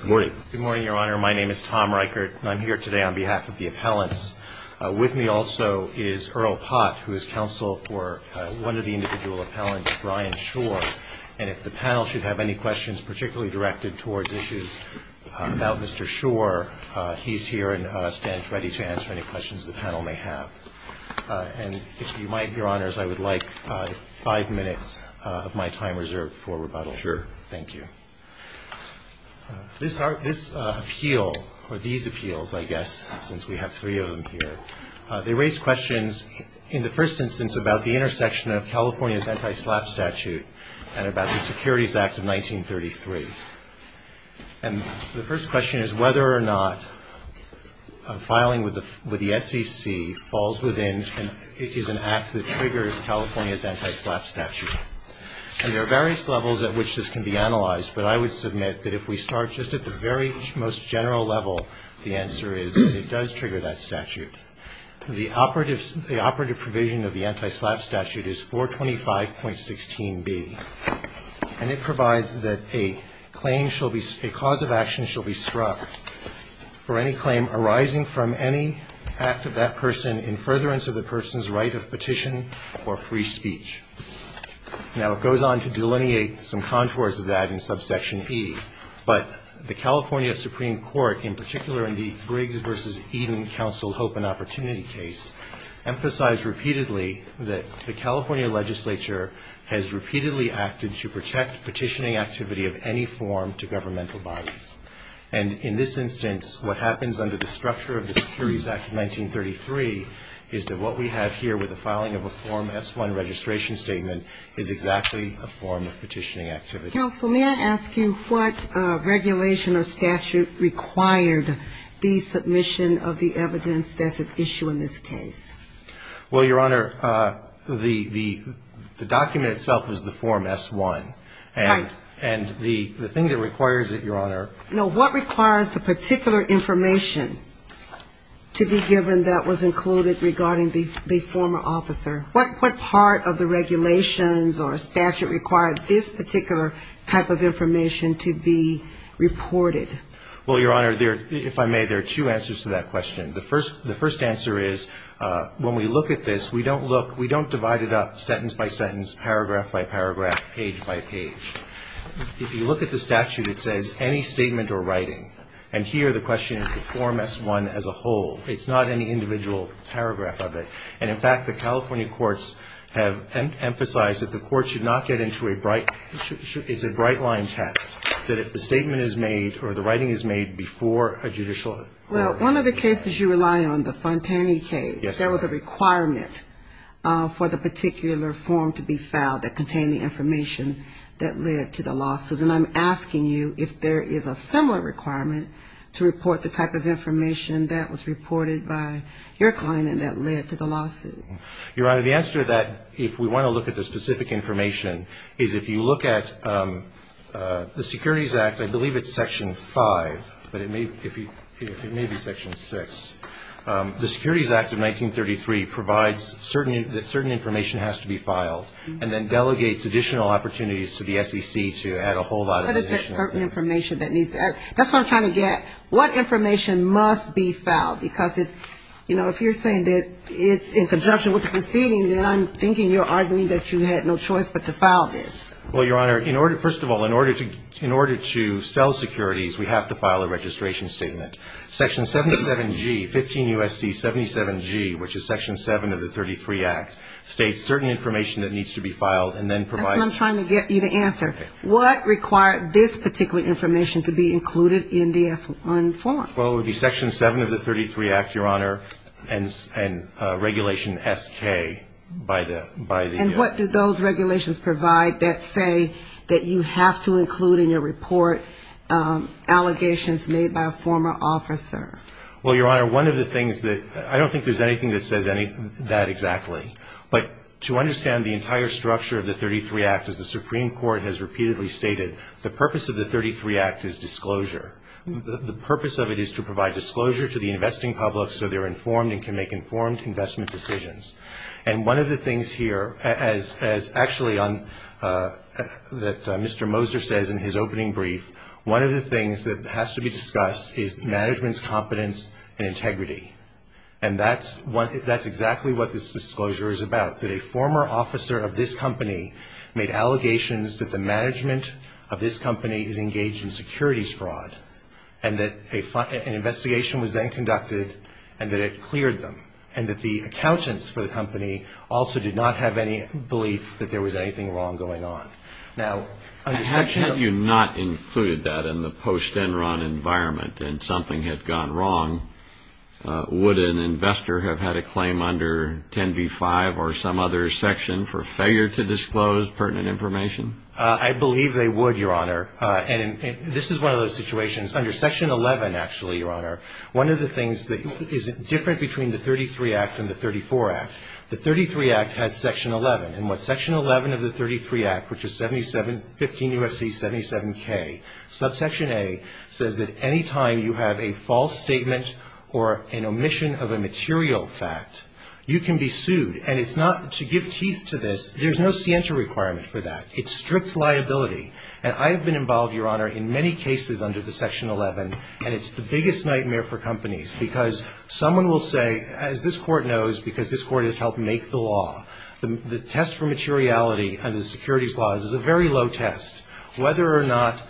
Good morning, Your Honor. My name is Tom Reichert, and I'm here today on behalf of the appellants. With me also is Earl Pott, who is counsel for one of the individual appellants, Brian Shor. And if the panel should have any questions particularly directed towards issues about Mr. Shor, he's here and stands ready to answer any questions the panel may have. And if you might, Your Honors, I would like five minutes of my time reserved for rebuttal. Sure. Thank you. This appeal, or these appeals, I guess, since we have three of them here, they raise questions in the first instance about the intersection of California's anti-SLAPP statute and about the Securities Act of 1933. And the first question is whether or not filing with the SEC falls within an act that triggers California's anti-SLAPP statute. And there are various levels at which this can be analyzed, but I would submit that if we start just at the very most general level, the answer is that it does trigger that statute. The operative provision of the anti-SLAPP statute is 425.16b, and it provides that a claim shall be ‑‑ a cause of action shall be struck for any claim arising from any act of that person in furtherance of the person's right of petition or free speech. Now, it goes on to delineate some contours of that in subsection E, but the California Supreme Court, in particular in the Briggs v. Eden Counsel Hope and Opportunity case, emphasized repeatedly that the California legislature has repeatedly acted to protect petitioning activity of any form to governmental bodies. And in this instance, what happens under the structure of the Securities Act of 1933 is that what we have here with the petition statement is exactly a form of petitioning activity. Counsel, may I ask you what regulation or statute required the submission of the evidence that's at issue in this case? Well, Your Honor, the document itself is the Form S.1. Right. And the thing that requires it, Your Honor ‑‑ No, what requires the particular information to be given that was included regarding the regulations or statute required this particular type of information to be reported? Well, Your Honor, if I may, there are two answers to that question. The first answer is when we look at this, we don't look ‑‑ we don't divide it up sentence by sentence, paragraph by paragraph, page by page. If you look at the statute, it says any statement or writing. And here the question is the Form S.1 as a whole. It's not any individual paragraph of it. And, in fact, the California courts have emphasized that the court should not get into a bright ‑‑ it's a bright line test that if the statement is made or the writing is made before a judicial ‑‑ Well, one of the cases you rely on, the Fontani case, there was a requirement for the particular form to be filed that contained the information that led to the lawsuit. And I'm asking you if there is a similar requirement to report the type of information that was reported by your client and that led to the lawsuit. Your Honor, the answer to that, if we want to look at the specific information, is if you look at the Securities Act, I believe it's Section 5, but it may be Section 6. The Securities Act of 1933 provides that certain information has to be filed and then delegates additional opportunities to the SEC to add a whole lot of additional ‑‑ What is that certain information that needs to ‑‑ that's what I'm trying to get. What information must be filed? Because if, you know, if you're saying that it's in conjunction with the proceedings, then I'm thinking you're arguing that you had no choice but to file this. Well, Your Honor, first of all, in order to sell securities, we have to file a registration statement. Section 77G, 15 U.S.C. 77G, which is Section 7 of the 1933 Act, states certain information that needs to be filed and then provides ‑‑ That's what I'm trying to get you to answer. What required this particular information to be included in the S-1 form? Well, it would be Section 7 of the 1933 Act, Your Honor, and regulation SK by the ‑‑ And what do those regulations provide that say that you have to include in your report allegations made by a former officer? Well, Your Honor, one of the things that ‑‑ I don't think there's anything that says that exactly, but to understand the entire structure of the 1933 Act, as the Supreme Court has disclosure, the purpose of it is to provide disclosure to the investing public so they're informed and can make informed investment decisions. And one of the things here, as actually on ‑‑ that Mr. Moser says in his opening brief, one of the things that has to be discussed is management's competence and integrity. And that's exactly what this disclosure is about, that a former officer of this company made allegations that the company was involved in securities fraud, and that an investigation was then conducted and that it cleared them, and that the accountants for the company also did not have any belief that there was anything wrong going on. Now, under Section ‑‑ Had you not included that in the post‑Enron environment and something had gone wrong, would an investor have had a claim under 10b-5 or some other section for failure to disclose pertinent information? I believe they would, Your Honor. And this is one of those situations. Under Section 11, actually, Your Honor, one of the things that is different between the 1933 Act and the 1934 Act, the 1933 Act has Section 11. And what Section 11 of the 1933 Act, which is 77 ‑‑ 15 U.S.C. 77K, subsection A says that any time you have a false statement or an omission of a material fact, you can be sued. And it's not ‑‑ to give teeth to this, there's no scienter requirement for that. It's strict liability. And I have been involved, Your Honor, in many cases under the Section 11, and it's the biggest nightmare for companies, because someone will say, as this Court knows, because this Court has helped make the law, the test for materiality under the securities laws is a very low test, whether or not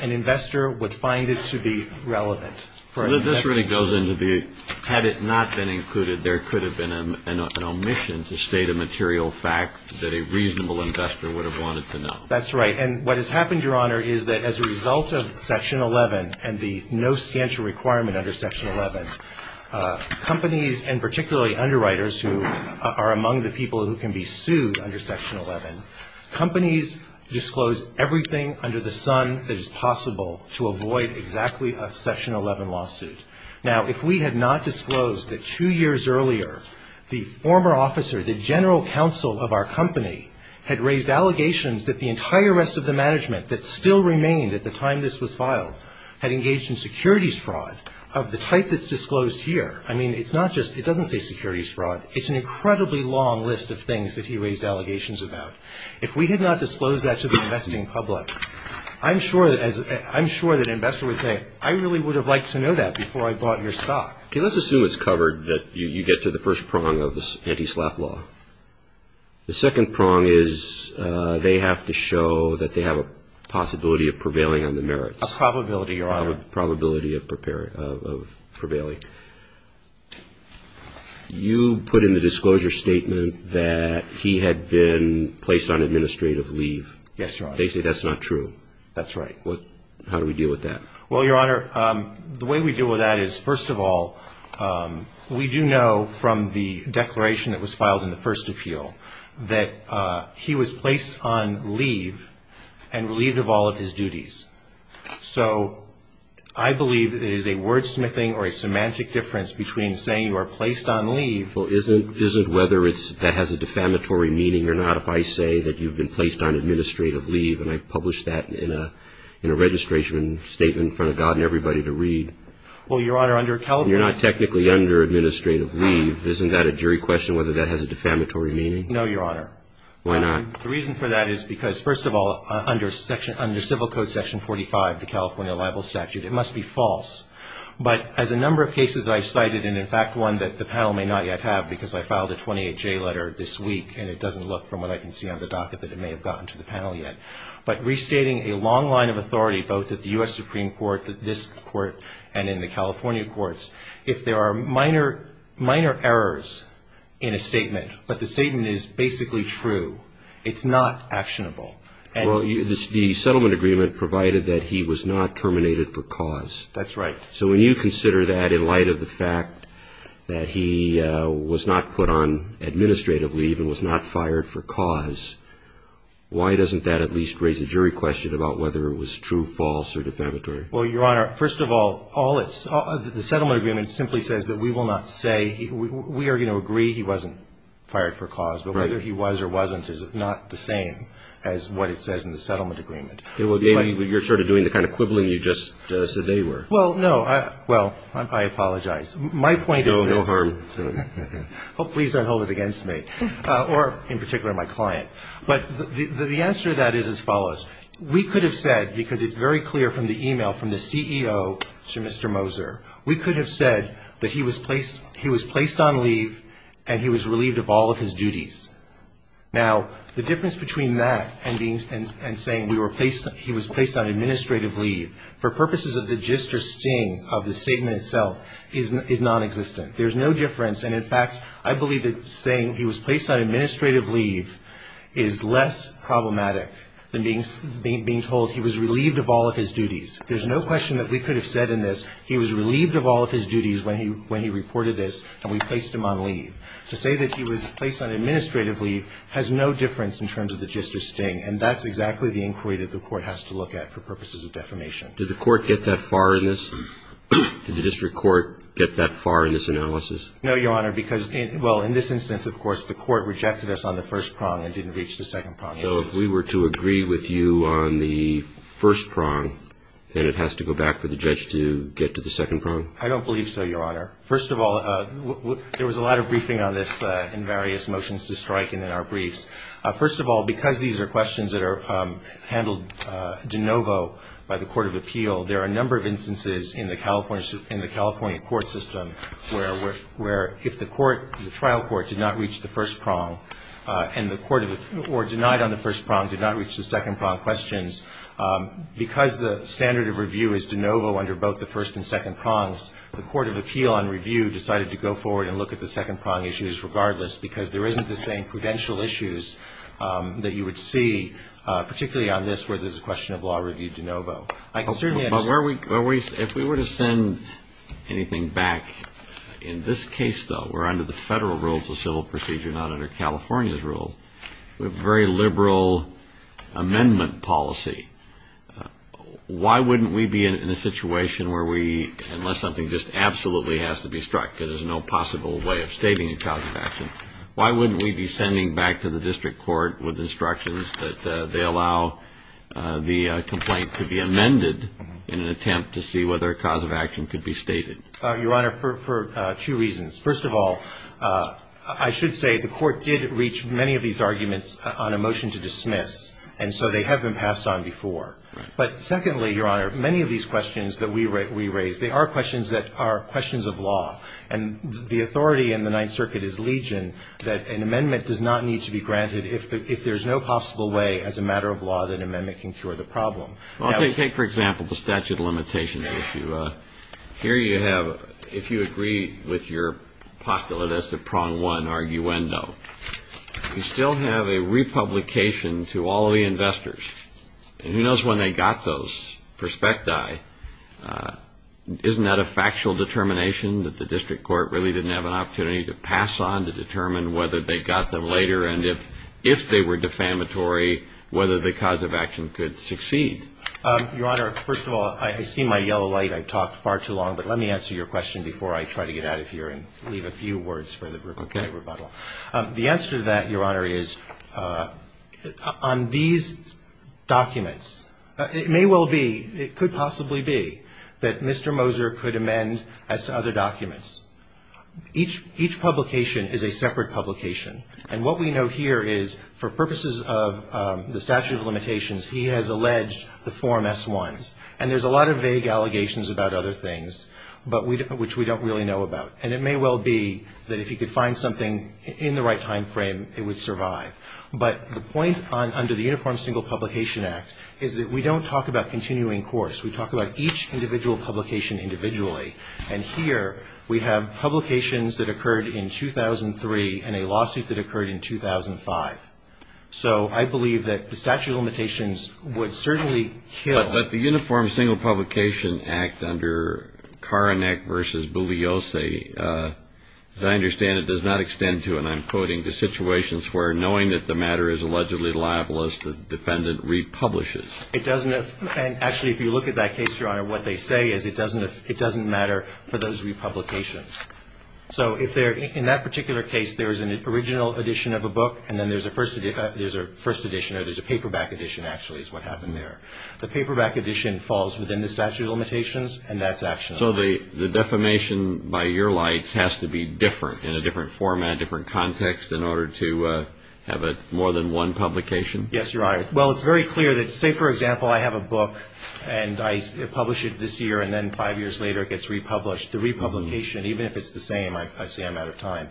an investor would find it to be relevant for an investor. Well, this really goes into the, had it not been included, there could have been an omission to state a material fact that a reasonable investor would have wanted to know. That's right. And what has happened, Your Honor, is that as a result of Section 11 and the no scienter requirement under Section 11, companies, and particularly underwriters who are among the people who can be sued under Section 11, companies disclose everything under the sun that is possible to avoid exactly a Section 11 lawsuit. Now, if we had not disclosed that two years earlier the former officer, the general counsel of our company, had raised allegations that the entire rest of the management that still remained at the time this was filed had engaged in securities fraud of the type that's disclosed here, I mean, it's not just ‑‑ it doesn't say securities fraud. It's an incredibly long list of things that he raised allegations about. If we had not disclosed that to the investing public, I'm sure that as ‑‑ I'm sure that an investor would say, I really would have liked to know that before I bought your stock. Okay. Let's assume it's covered that you get to the first prong of the anti‑slap law. The second prong is they have to show that they have a possibility of prevailing on the merits. A probability, Your Honor. Probability of prevailing. You put in the disclosure statement that he had been placed on administrative leave. Yes, Your Honor. Basically, that's not true. That's right. How do we deal with that? Well, Your Honor, the way we deal with that is, first of all, we do know from the declaration that was filed in the first appeal that he was placed on leave and relieved of all of his duties. So I believe that it is a wordsmithing or a semantic difference between saying you are placed on leave ‑‑ Well, isn't whether it's ‑‑ that has a defamatory meaning or not if I say that you've been placed on administrative leave, and I published that in a registration statement in front of God and everybody to read? Well, Your Honor, under California ‑‑ You're not technically under administrative leave. Isn't that a jury question whether that has a defamatory meaning? No, Your Honor. Why not? The reason for that is because, first of all, under Civil Code section 45, the California libel statute, it must be false. But as a number of cases that I've cited, and in fact one that the panel may not yet have because I filed a 28J letter this week, and it doesn't look from what I can see on the docket that it may have gotten to the panel yet, but restating a long line of authority both at the U.S. Supreme Court, at this court, and in the California courts, if there are minor errors in a statement, but the statement is basically true, it's not actionable. Well, the settlement agreement provided that he was not terminated for cause. That's right. So when you consider that in light of the fact that he was not put on administrative leave and was not fired for cause, why doesn't that at least raise a jury question about whether it was true, false, or defamatory? Well, Your Honor, first of all, all it's the settlement agreement simply says that we will not say, we are going to agree he wasn't fired for cause, but whether he was or wasn't is not the same as what it says in the settlement agreement. Well, you're sort of doing the kind of quibbling you just said they were. Well, no. Well, I apologize. My point is this. No harm. Well, please don't hold it against me, or in particular my client. But the answer to that is as follows. We could have said, because it's very clear from the e-mail from the CEO to Mr. Moser, we could have said that he was placed on leave and he was relieved of all of his duties. Now, the difference between that and saying we were placed, he was placed on administrative leave, for purposes of the gist or sting of the statement itself, is nonexistent. There's no difference. And, in fact, I believe that saying he was placed on administrative leave is less problematic than being told he was relieved of all of his duties. There's no question that we could have said in this he was relieved of all of his duties when he reported this and we placed him on leave. To say that he was placed on administrative leave has no difference in terms of the gist or sting. And that's exactly the inquiry that the Court has to look at for purposes of defamation. Did the Court get that far in this? Did the District Court get that far in this analysis? No, Your Honor, because, well, in this instance, of course, the Court rejected us on the first prong and didn't reach the second prong. So if we were to agree with you on the first prong, then it has to go back for the judge to get to the second prong? I don't believe so, Your Honor. First of all, there was a lot of briefing on this in various motions to strike and in our briefs. First of all, because these are questions that are handled de novo by the Court of Appeal, there are a number of instances in the California court system where if the trial court did not reach the first prong or denied on the first prong, did not reach the second prong questions, because the standard of review is de novo under both the first and second prongs, the Court of Appeal on review decided to go forward and look at the second prong issues regardless, because there isn't the same prudential issues that you would see, particularly on this, where there's a question of law review de novo. I can certainly understand... But if we were to send anything back, in this case, though, we're under the federal rules of civil procedure, not under California's rules, we have a very liberal amendment policy. Why wouldn't we be in a situation where we, unless something just absolutely has to be a possible way of stating a cause of action, why wouldn't we be sending back to the district court with instructions that they allow the complaint to be amended in an attempt to see whether a cause of action could be stated? Your Honor, for two reasons. First of all, I should say the court did reach many of these arguments on a motion to dismiss, and so they have been passed on before. But secondly, Your Honor, many of these questions that we raise, they are questions that are the authority in the Ninth Circuit is legion, that an amendment does not need to be granted if there's no possible way, as a matter of law, that an amendment can cure the problem. Well, take, for example, the statute of limitations issue. Here you have, if you agree with your popular list of prong one arguendo, you still have a republication to all of the investors, and who knows when they got those prospecti, isn't that a factual determination that the district court really didn't have an opportunity to pass on to determine whether they got them later, and if they were defamatory, whether the cause of action could succeed? Your Honor, first of all, I see my yellow light. I've talked far too long, but let me answer your question before I try to get out of here and leave a few words for the Brooklyn Court of Rebuttal. The answer to that, Your Honor, is on these documents, it may well be, it could possibly be, that Mr. Moser could amend as to other documents. Each publication is a separate publication, and what we know here is, for purposes of the statute of limitations, he has alleged the form S-1s, and there's a lot of vague allegations about other things, but which we don't really know about, and it may well be that if he could find something in the right time frame, it would survive. But the point under the Uniform Single Publication Act is that we don't talk about continuing course. We talk about each individual publication individually, and here, we have publications that occurred in 2003 and a lawsuit that occurred in 2005. So I believe that the statute of limitations would certainly kill. But the Uniform Single Publication Act under Karanek v. Buviosi, as I understand it, does not extend to, and I'm quoting, the situations where knowing that the matter is allegedly libelous, the defendant republishes. It doesn't, and actually, if you look at that case, Your Honor, what they say is it doesn't matter for those republications. So if there, in that particular case, there is an original edition of a book, and then there's a first edition, or there's a paperback edition, actually, is what happened there. The paperback edition falls within the statute of limitations, and that's actually. So the defamation by your lights has to be different, in a different format, different context, in order to have more than one publication? Yes, Your Honor. Well, it's very clear that, say, for example, I have a book, and I publish it this year, and then five years later, it gets republished. The republication, even if it's the same, I say I'm out of time,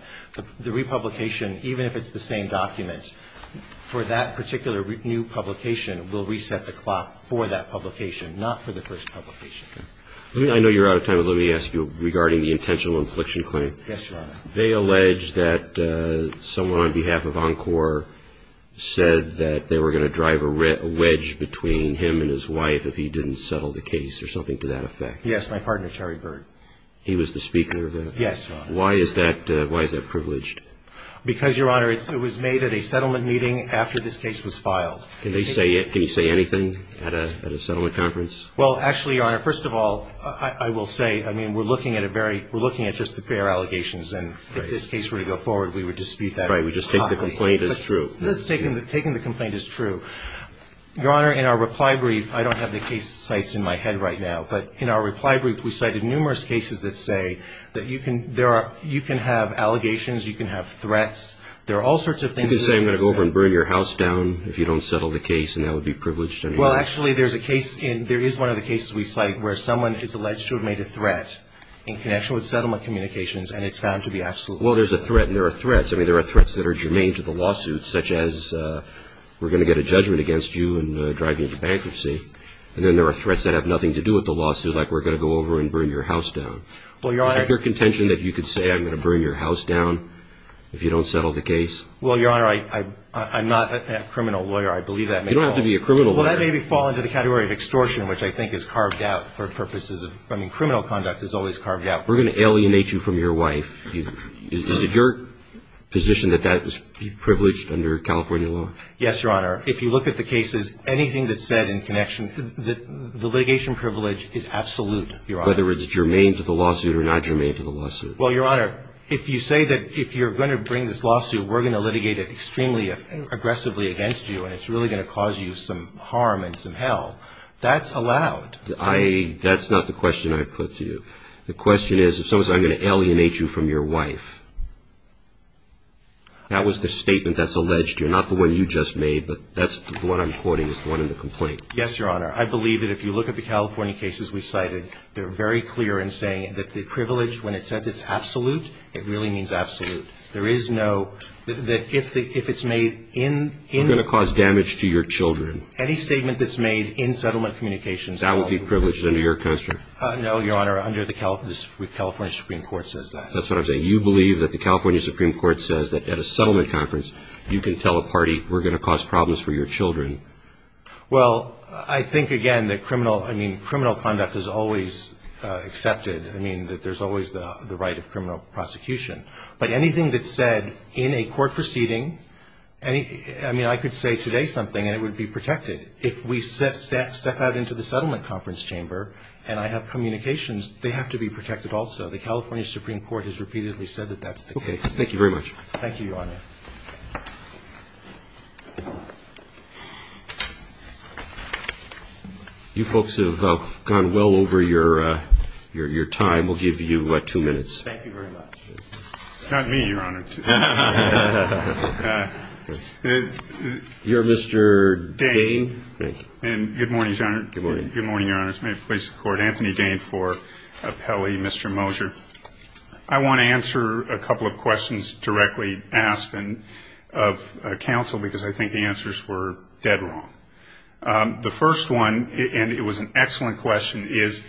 the republication, even if it's the same document, for that particular new publication, will reset the clock for that publication, not for the first publication. I know you're out of time, but let me ask you, regarding the intentional infliction claim. Yes, Your Honor. They allege that someone on behalf of Encore said that they were going to drive a wedge between him and his wife if he didn't settle the case, or something to that effect. Yes, my partner, Terry Bird. He was the speaker of that? Yes, Your Honor. Why is that privileged? Because, Your Honor, it was made at a settlement meeting after this case was filed. Can they say it? Can you say anything at a settlement conference? Well, actually, Your Honor, first of all, I will say, I mean, we're looking at a very We're looking at just the fair allegations, and if this case were to go forward, we would dispute that. Right. We just take the complaint as true. Let's take the complaint as true. Your Honor, in our reply brief, I don't have the case sites in my head right now, but in our reply brief, we cited numerous cases that say that you can have allegations, you can have threats. There are all sorts of things. You can say I'm going to go over and burn your house down if you don't settle the case, and that would be privileged anyway. Well, actually, there is one of the cases we cite where someone is alleged to have made a threat in connection with settlement communications, and it's found to be absolutely true. Well, there's a threat, and there are threats. I mean, there are threats that are germane to the lawsuit, such as we're going to get a judgment against you and drive you into bankruptcy, and then there are threats that have nothing to do with the lawsuit, like we're going to go over and burn your house down. Well, Your Honor. Is it your contention that you could say I'm going to burn your house down if you don't settle the case? Well, Your Honor, I'm not a criminal lawyer. I believe that may fall. You don't have to be a criminal lawyer. Well, that may fall into the category of extortion, which I think is carved out for purposes of criminal conduct. I mean, criminal conduct is always carved out. If we're going to alienate you from your wife, is it your position that that is privileged under California law? Yes, Your Honor. If you look at the cases, anything that's said in connection, the litigation privilege is absolute, Your Honor. Whether it's germane to the lawsuit or not germane to the lawsuit. Well, Your Honor, if you say that if you're going to bring this lawsuit, we're going to litigate it extremely aggressively against you, and it's really going to cause you some harm and some hell, that's allowed. That's not the question I put to you. The question is, if someone says, I'm going to alienate you from your wife, that was the statement that's alleged to you, not the one you just made, but that's the one I'm quoting is the one in the complaint. Yes, Your Honor. I believe that if you look at the California cases we cited, they're very clear in saying that the privilege, when it says it's absolute, it really means absolute. There is no, that if it's made in the law. It's going to cause damage to your children. Any statement that's made in settlement communications, that will be privileged under your constraint. No, Your Honor, under the California Supreme Court says that. That's what I'm saying. You believe that the California Supreme Court says that at a settlement conference, you can tell a party, we're going to cause problems for your children. Well, I think again that criminal conduct is always accepted. I mean, that there's always the right of criminal prosecution. But anything that's said in a court proceeding, I mean, I could say today something and it would be protected. If we step out into the settlement conference chamber and I have communications, they have to be protected also. The California Supreme Court has repeatedly said that that's the case. Okay. Thank you very much. Thank you, Your Honor. You folks have gone well over your time. We'll give you two minutes. Thank you very much. Not me, Your Honor. I would like to apologize for that. You're Mr. Day. Thank you. And good morning, Your Honor. Good morning. Good morning, Your Honor. This is my place to record Anthony Day for appellee, Mr. Mosher. I want to answer a couple of questions directly asked of counsel because I think the answers were dead wrong. The first one, and it was an excellent question, is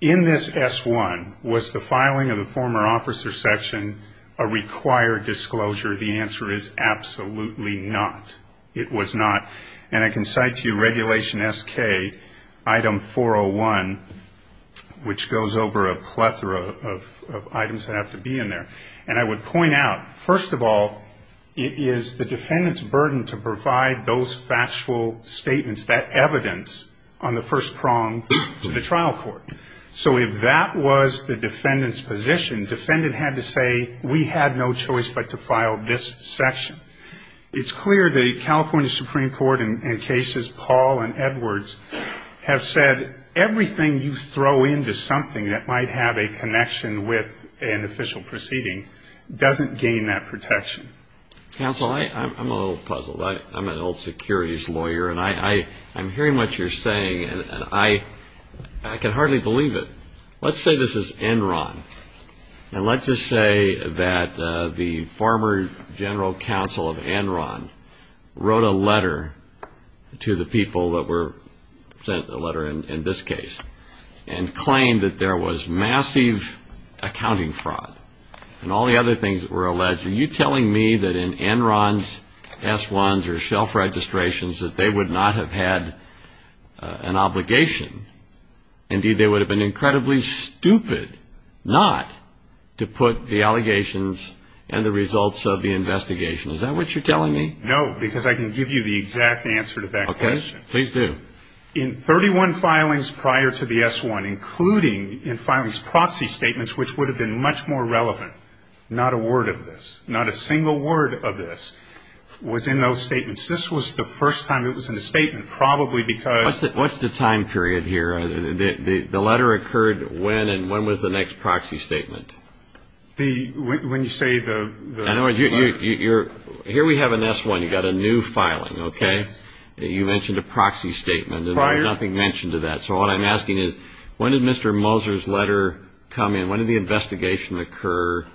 in this S-1, was the filing of the former officer's section a required disclosure? The answer is absolutely not. It was not. And I can cite to you Regulation SK, Item 401, which goes over a plethora of items that have to be in there. And I would point out, first of all, it is the defendant's burden to provide those factual statements, that evidence, on the first prong to the trial court. So if that was the defendant's position, the defendant had to say, we had no choice but to file this section. It's clear the California Supreme Court, in cases Paul and Edwards have said, everything you throw into something that might have a connection with an official proceeding doesn't gain that protection. Counsel, I'm a little puzzled. I'm an old securities lawyer, and I'm hearing what you're saying, and I can hardly believe it. Let's say this is Enron, and let's just say that the former general counsel of Enron wrote a letter to the people that were sent a letter in this case, and claimed that there was massive accounting fraud, and all the other things that were alleged. Are you telling me that in Enron's S-1s or shelf registrations that they would not have had an obligation? Indeed, they would have been incredibly stupid not to put the allegations and the results of the investigation. Is that what you're telling me? No, because I can give you the exact answer to that question. Okay. Please do. In 31 filings prior to the S-1, including in filings proxy statements, which would have been much more relevant, not a word of this, not a single word of this, was in those statements. This was the first time it was in a statement, probably because What's the time period here? The letter occurred when, and when was the next proxy statement? When you say the... In other words, here we have an S-1, you've got a new filing, okay? You mentioned a proxy statement, and there was nothing mentioned to that. So what I'm asking is, when did Mr. Moser's letter come in? When did the investigation occur,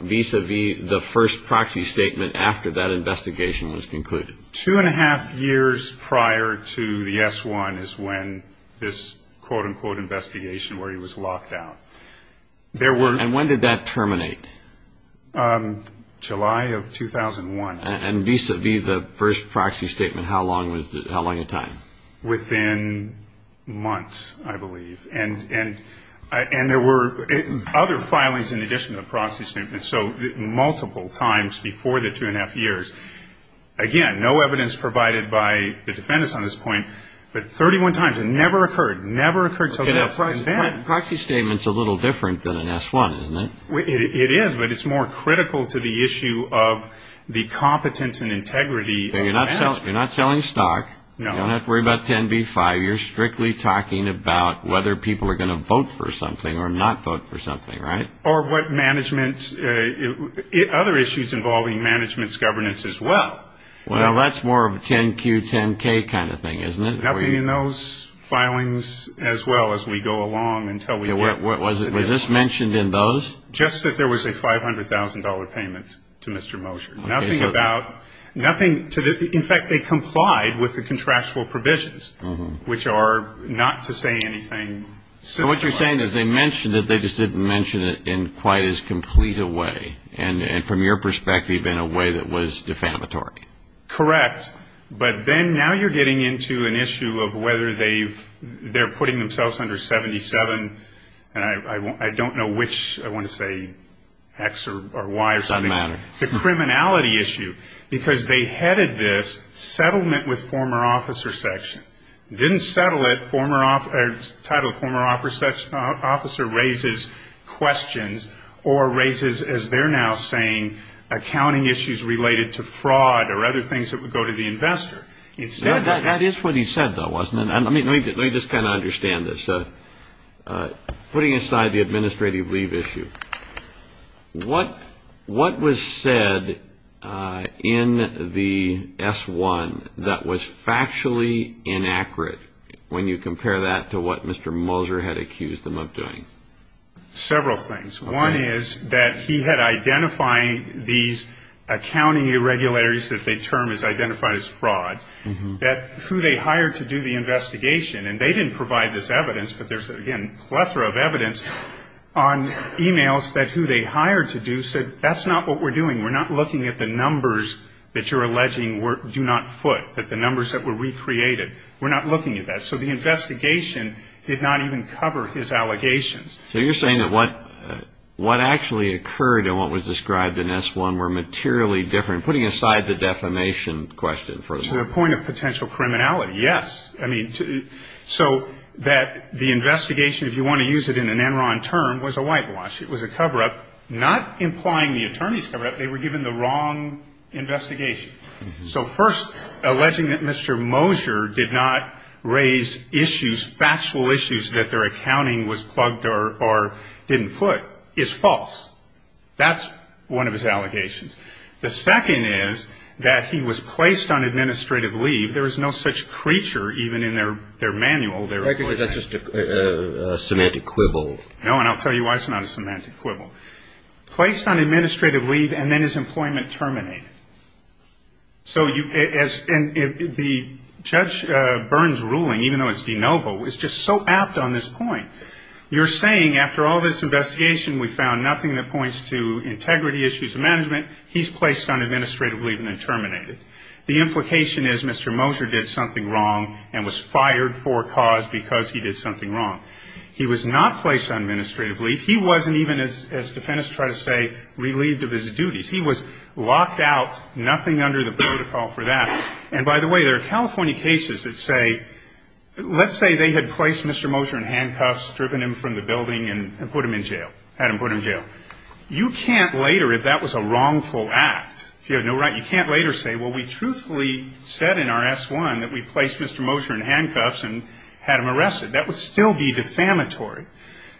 vis-a-vis the first proxy statement after that investigation was concluded? Two and a half years prior to the S-1 is when this, quote-unquote, investigation where he was locked out. There were... And when did that terminate? July of 2001. And vis-a-vis the first proxy statement, how long a time? Within months, I believe. And there were other filings in addition to the proxy statement. So multiple times before the two and a half years. Again, no evidence provided by the defendants on this point, but 31 times. It never occurred. Never occurred until the S-1. But a proxy statement's a little different than an S-1, isn't it? It is, but it's more critical to the issue of the competence and integrity of management. You're not selling stock. No. You don't have to worry about 10B-5. You're strictly talking about whether people are going to vote for something or not vote for something, right? Or what management... Other issues involving management's governance as well. Well, that's more of a 10Q-10K kind of thing, isn't it? Nothing in those filings as well as we go along until we get... Was this mentioned in those? Just that there was a $500,000 payment to Mr. Mosher. Nothing about... Nothing to the... In fact, they complied with the contractual provisions, which are not to say anything similar. What you're saying is they mentioned it. They just didn't mention it in quite as complete a way, and from your perspective, in a way that was defamatory. Correct. But then, now you're getting into an issue of whether they've... They're putting themselves under 77, and I don't know which... I want to say X or Y or something. Doesn't matter. The criminality issue, because they headed this settlement with former officer section. Didn't settle it. Former... Title of former officer raises questions or raises, as they're now saying, accounting issues related to fraud or other things that would go to the investor. That is what he said, though, wasn't it? Let me just kind of understand this. Putting aside the administrative leave issue, what was said in the S-1 that was factually inaccurate when you compare that to what Mr. Moser had accused them of doing? Several things. One is that he had identified these accounting irregularities that they term as identified as fraud, that who they hired to do the investigation, and they didn't provide this evidence, but there's, again, plethora of evidence on emails that who they hired to do said, that's not what we're doing. We're not looking at the numbers that you're alleging do not foot, that the numbers that were recreated. We're not looking at that. So the investigation did not even cover his allegations. So you're saying that what actually occurred and what was described in S-1 were materially different, putting aside the defamation question for the moment. To the point of potential criminality, yes. So that the investigation, if you want to use it in an Enron term, was a whitewash. It was a cover-up, not implying the attorney's cover-up. They were given the wrong investigation. So first, alleging that Mr. Mosher did not raise issues, factual issues, that their accounting was plugged or didn't foot is false. That's one of his allegations. The second is that he was placed on administrative leave. There is no such creature, even in their manual, their employment. I think that's just a semantic quibble. No, and I'll tell you why it's not a semantic quibble. Placed on administrative leave and then his employment terminated. So the Judge Burns' ruling, even though it's de novo, is just so apt on this point. You're saying after all this investigation, we found nothing that points to integrity issues of management, he's placed on administrative leave and then terminated. The implication is Mr. Mosher did something wrong and was fired for a cause because he did something wrong. He was not placed on administrative leave. He wasn't even, as defendants try to say, relieved of his duties. He was locked out, nothing under the protocol for that. And by the way, there are California cases that say, let's say they had placed Mr. Mosher in handcuffs, driven him from the building and put him in jail, had him put in jail. You can't later, if that was a wrongful act, if you have no right, you can't later say, well, we truthfully said in our S-1 that we placed Mr. Mosher in handcuffs and had him arrested. That would still be defamatory.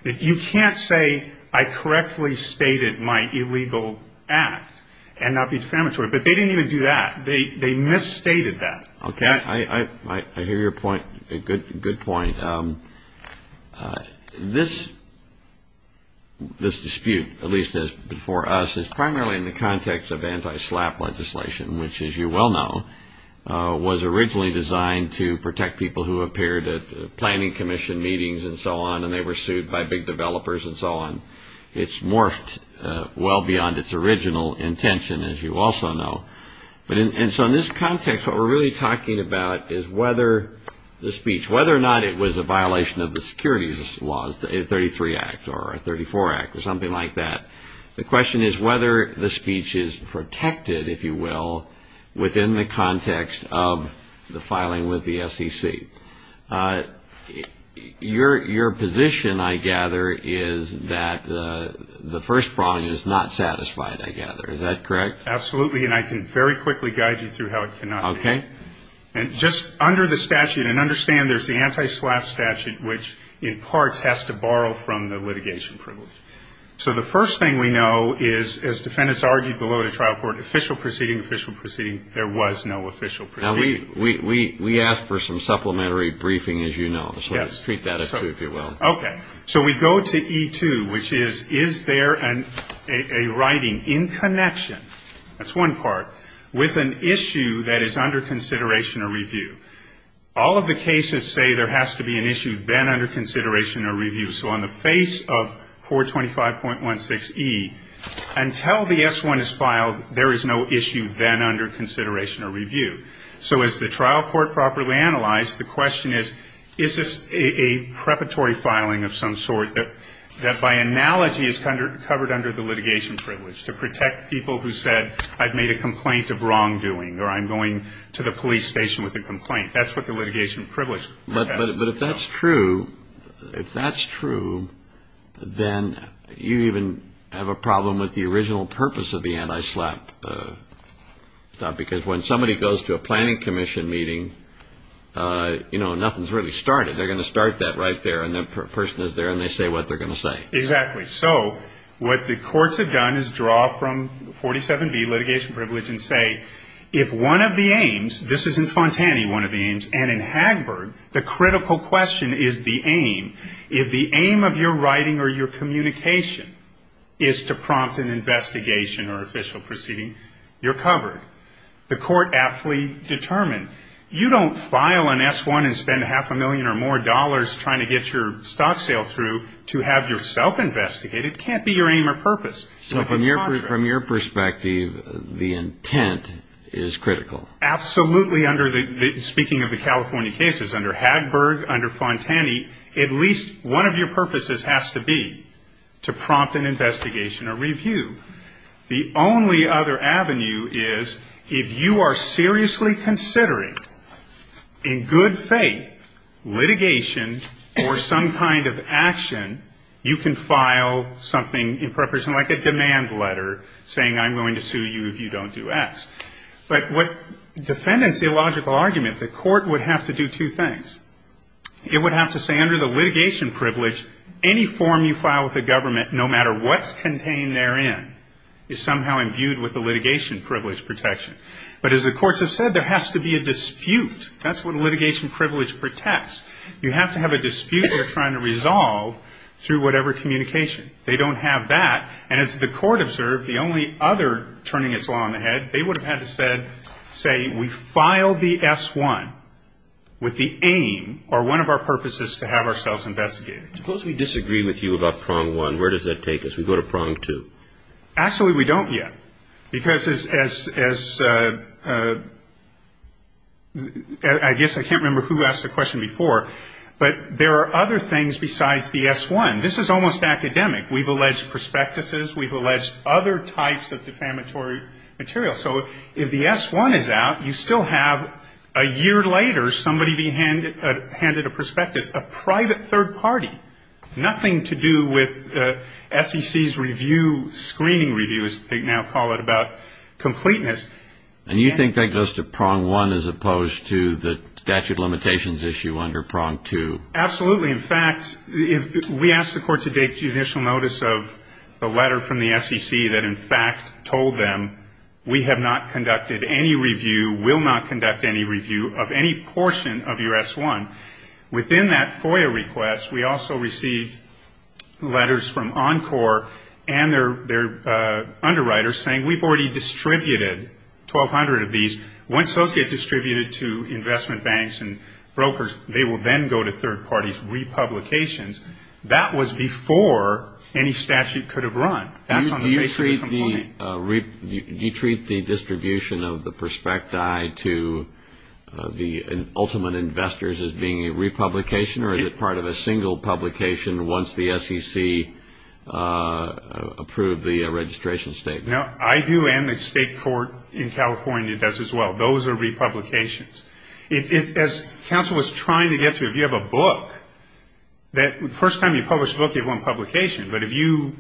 You can't say I correctly stated my illegal act and not be defamatory. But they didn't even do that. They misstated that. Okay, I hear your point, a good point. This dispute, at least as before us, is primarily in the context of anti-SLAPP legislation, which as you well know, was originally designed to protect people who appeared at planning commission meetings and so on, and they were sued by big developers and so on. It's morphed well beyond its original intention, as you also know. And so in this context, what we're really talking about is whether the speech, whether or not it was a violation of the securities laws, the 833 Act or the 834 Act or something like that. The question is whether the speech is protected, if you will, within the context of the filing with the SEC. Your position, I gather, is that the first problem is not satisfied, I gather. Is that correct? Absolutely. And I can very quickly guide you through how it cannot be. And just under the statute, and understand there's the anti-SLAPP statute, which in parts has to borrow from the litigation privilege. So the first thing we know is, as defendants argued below the trial court, official proceeding, official proceeding, there was no official proceeding. Now, we asked for some supplementary briefing, as you know, so let's treat that as true, if you will. Okay. So we go to E2, which is, is there a writing in connection, that's one part, with an issue that is under consideration or review? All of the cases say there has to be an issue then under consideration or review. So on the face of 425.16E, until the S1 is filed, there is no issue then under consideration or review. So as the trial court properly analyzed, the question is, is this a preparatory filing of some sort that, by analogy, is covered under the litigation privilege, to protect people who said, I've made a complaint of wrongdoing, or I'm going to the police station with a complaint. That's what the litigation privilege. But if that's true, if that's true, then you even have a problem with the original purpose of the anti-slap. Because when somebody goes to a planning commission meeting, you know, nothing's really started. They're going to start that right there, and that person is there, and they say what they're going to say. Exactly. So what the courts have done is draw from 47B, litigation privilege, and say, if one of the aims, this is in Fontani, one of the aims, and in Hagberg, the critical question is the aim, if the aim of your writing or your communication is to prompt an investigation or official proceeding, you're covered. The court aptly determined, you don't file an S-1 and spend half a million or more dollars trying to get your stock sale through to have yourself investigated, it can't be your aim or purpose. So from your perspective, the intent is critical. Absolutely, speaking of the California cases, under Hagberg, under Fontani, at least one of your purposes has to be to prompt an investigation or review. The only other avenue is if you are seriously considering, in good faith, litigation or some kind of action, you can file something in preparation, like a demand letter, saying I'm going to sue you if you don't do S. But what defendants' illogical argument, the court would have to do two things. It would have to say under the litigation privilege, any form you file with the government, no matter what's contained therein, is somehow imbued with the litigation privilege protection. But as the courts have said, there has to be a dispute. That's what litigation privilege protects. You have to have a dispute they're trying to resolve through whatever communication. They don't have that. And as the court observed, the only other turning its law on the head, they would have had to say we filed the S-1 with the aim or one of our purposes to have ourselves investigated. Suppose we disagree with you about prong one. Where does that take us? We go to prong two. Actually, we don't yet. Because as I guess I can't remember who asked the question before, but there are other things besides the S-1. This is almost academic. We've alleged prospectuses. We've alleged other types of defamatory material. So if the S-1 is out, you still have a year later somebody be handed a prospectus, a private third party, nothing to do with SEC's review, screening review, as they now call it, about completeness. And you think that goes to prong one as opposed to the statute of limitations issue under prong two? Absolutely. In fact, we asked the court to take judicial notice of the letter from the SEC that in fact told them we have not conducted any review, will not conduct any review of any portion of your S-1. Within that FOIA request, we also received letters from Encore and their underwriters saying we've already distributed 1,200 of these. Once those get distributed to investment banks and brokers, they will then go to third parties. Those republications, that was before any statute could have run. That's on the basis of the complaint. You treat the distribution of the prospecti to the ultimate investors as being a republication or is it part of a single publication once the SEC approved the registration statement? I do and the state court in California does as well. Those are republications. As counsel was trying to get to, if you have a book, the first time you publish a book, you have one publication. But if you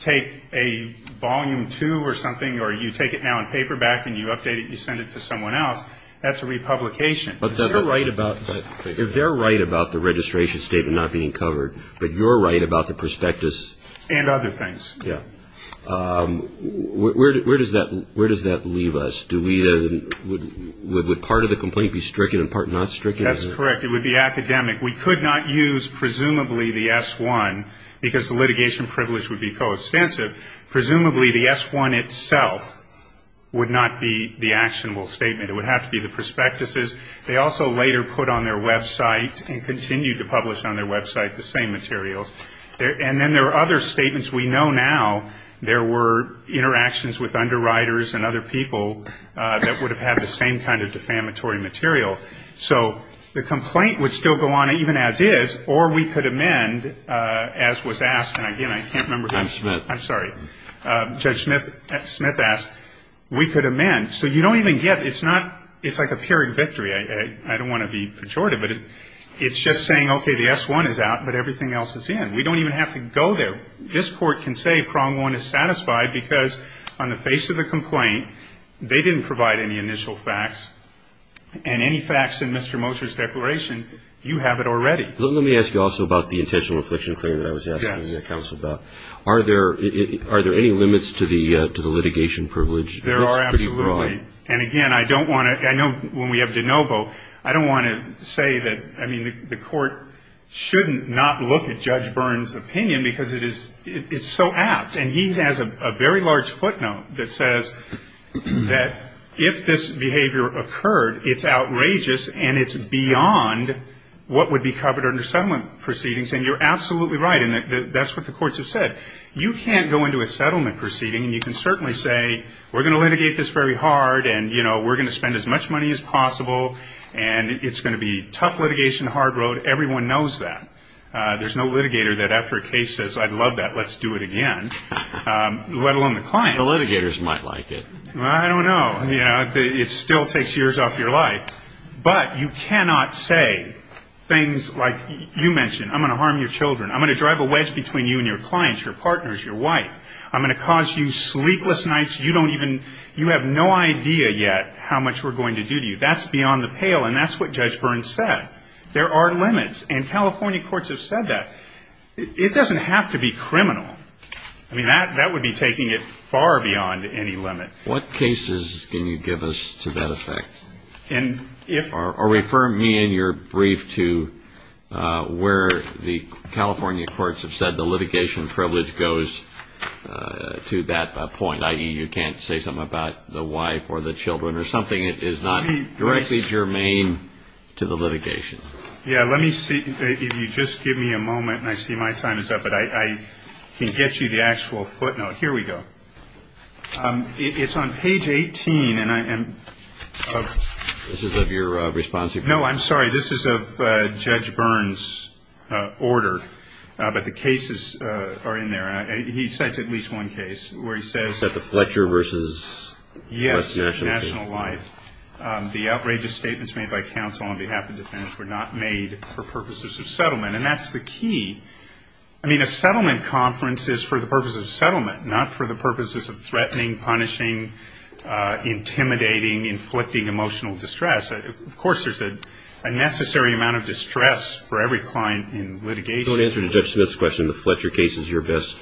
take a volume two or something or you take it now in paperback and you update it, you send it to someone else, that's a republication. But if they're right about the registration statement not being covered, but you're right about the prospectus? And other things. Yeah. Where does that leave us? Do we, would part of the complaint be stricken and part not stricken? That's correct. It would be academic. We could not use presumably the S-1 because the litigation privilege would be co-extensive. Presumably the S-1 itself would not be the actionable statement. It would have to be the prospectuses. They also later put on their website and continued to publish on their website the same materials. And then there are other statements. We know now there were interactions with underwriters and other people that would have had the same kind of defamatory material. So the complaint would still go on even as is, or we could amend, as was asked, and again, I can't remember who. Judge Smith. I'm sorry. Judge Smith asked, we could amend. So you don't even get, it's not, it's like a period victory. I don't want to be pejorative, but it's just saying, okay, the S-1 is out, but everything else is in. We don't even have to go there. But this Court can say Prong-1 is satisfied because on the face of the complaint, they didn't provide any initial facts, and any facts in Mr. Moser's declaration, you have it already. Let me ask you also about the intentional affliction claim that I was asking the counsel about. Yes. Are there any limits to the litigation privilege? There are, absolutely. It's pretty broad. And again, I don't want to, I know when we have de novo, I don't want to say that, I shouldn't not look at Judge Byrne's opinion because it is, it's so apt. And he has a very large footnote that says that if this behavior occurred, it's outrageous and it's beyond what would be covered under settlement proceedings. And you're absolutely right, and that's what the courts have said. You can't go into a settlement proceeding, and you can certainly say, we're going to litigate this very hard, and, you know, we're going to spend as much money as possible, and it's going to be tough litigation, hard road, everyone knows that. There's no litigator that after a case says, I'd love that, let's do it again, let alone the client. The litigators might like it. Well, I don't know. You know, it still takes years off your life. But you cannot say things like, you mentioned, I'm going to harm your children, I'm going to drive a wedge between you and your clients, your partners, your wife. I'm going to cause you sleepless nights, you don't even, you have no idea yet how much we're going to do to you. That's beyond the pale, and that's what Judge Burns said. There are limits, and California courts have said that. It doesn't have to be criminal. I mean, that would be taking it far beyond any limit. What cases can you give us to that effect? Or refer me in your brief to where the California courts have said the litigation privilege goes to that point, i.e., you can't say something about the wife or the children or something that is not directly germane to the litigation. Yeah, let me see, if you just give me a moment, and I see my time is up, but I can get you the actual footnote. Here we go. It's on page 18, and I am... This is of your response? No, I'm sorry. This is of Judge Burns' order, but the cases are in there, and he cites at least one case where he says... The outrageous statements made by counsel on behalf of defendants were not made for purposes of settlement, and that's the key. I mean, a settlement conference is for the purposes of settlement, not for the purposes of threatening, punishing, intimidating, inflicting emotional distress. Of course, there's a necessary amount of distress for every client in litigation. So in answer to Judge Smith's question, the Fletcher case is your best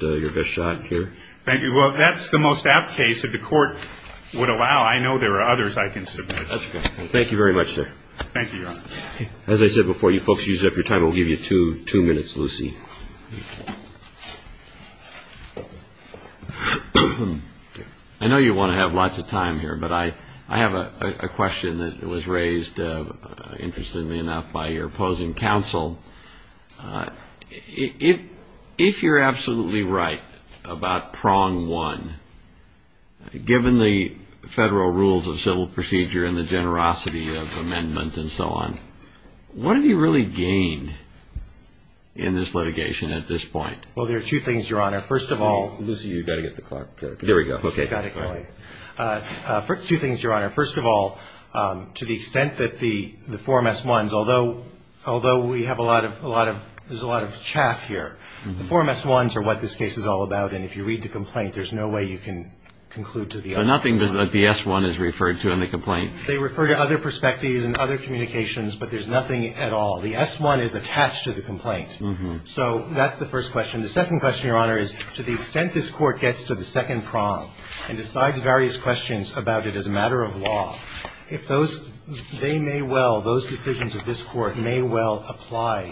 shot here? Thank you. Well, that's the most apt case that the court would allow. I know there are others I can submit. That's good. Thank you very much, sir. Thank you, Your Honor. As I said before, you folks use up your time, but we'll give you two minutes, Lucy. I know you want to have lots of time here, but I have a question that was raised, interestingly enough, by your opposing counsel. If you're absolutely right about prong one, given the federal rules of civil procedure and the generosity of amendment and so on, what have you really gained in this litigation at this point? Well, there are two things, Your Honor. First of all... Lucy, you've got to get the clock going. There we go. Okay. Got it, go ahead. Two things, Your Honor. First of all, I think the court has a lot of chaff here. The form S-1s are what this case is all about, and if you read the complaint, there's no way you can conclude to the other forms. But nothing that the S-1 is referred to in the complaint. They refer to other prospectives and other communications, but there's nothing at all. The S-1 is attached to the complaint. So that's the first question. The second question, Your Honor, is to the extent this Court gets to the second prong and decides various questions about it as a matter of law, if those they may well, those decisions of this Court may well apply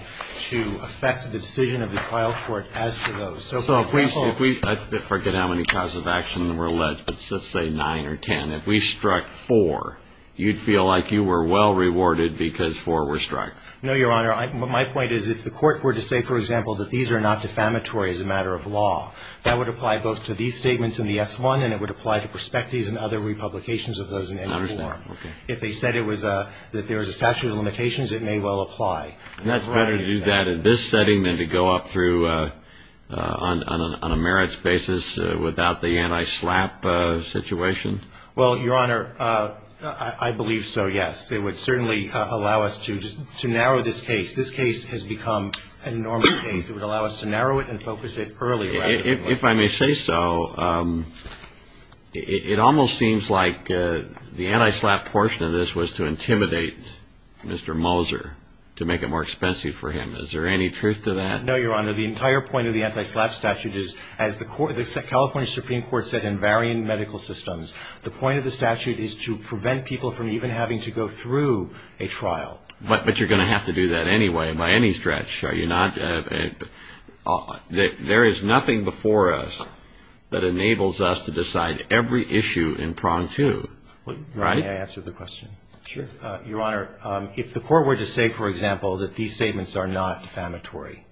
to affect the decision of the trial court as to those. So, for example... I forget how many causes of action were alleged, but let's say nine or ten. If we struck four, you'd feel like you were well rewarded because four were struck. No, Your Honor. My point is if the Court were to say, for example, that these are not defamatory as a matter of law, that would apply both to these statements in the S-1 and it would apply to prospectives and other republications of those in any form. If they said that there was a statute of limitations, it may well apply. And that's better to do that in this setting than to go up through on a merits basis without the anti-slap situation? Well, Your Honor, I believe so, yes. It would certainly allow us to narrow this case. This case has become a normal case. If I may say so, it almost seems like the anti-slap portion of this was to intimidate Mr. Moser to make it more expensive for him. Is there any truth to that? No, Your Honor. The entire point of the anti-slap statute is, as the California Supreme Court said in varying medical systems, the point of the statute is to prevent people from even having to go through a trial. But you're going to have to do that anyway by any stretch, are you not? There is nothing before us that enables us to decide every issue in prong two, right? May I answer the question? Sure. Your Honor, if the court were to say, for example, that these statements are not defamatory,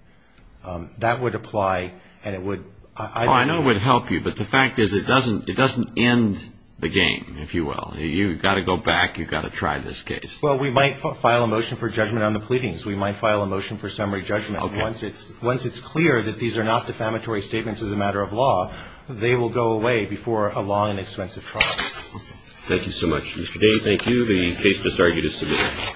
that would apply and it would – Oh, I know it would help you, but the fact is it doesn't end the game, if you will. You've got to go back. You've got to try this case. Well, we might file a motion for judgment on the pleadings. We might file a motion for summary judgment. Once it's clear that these are not defamatory statements as a matter of law, they will go away before a long and expensive trial. Thank you so much. Mr. Daly, thank you. The case is argued as submitted.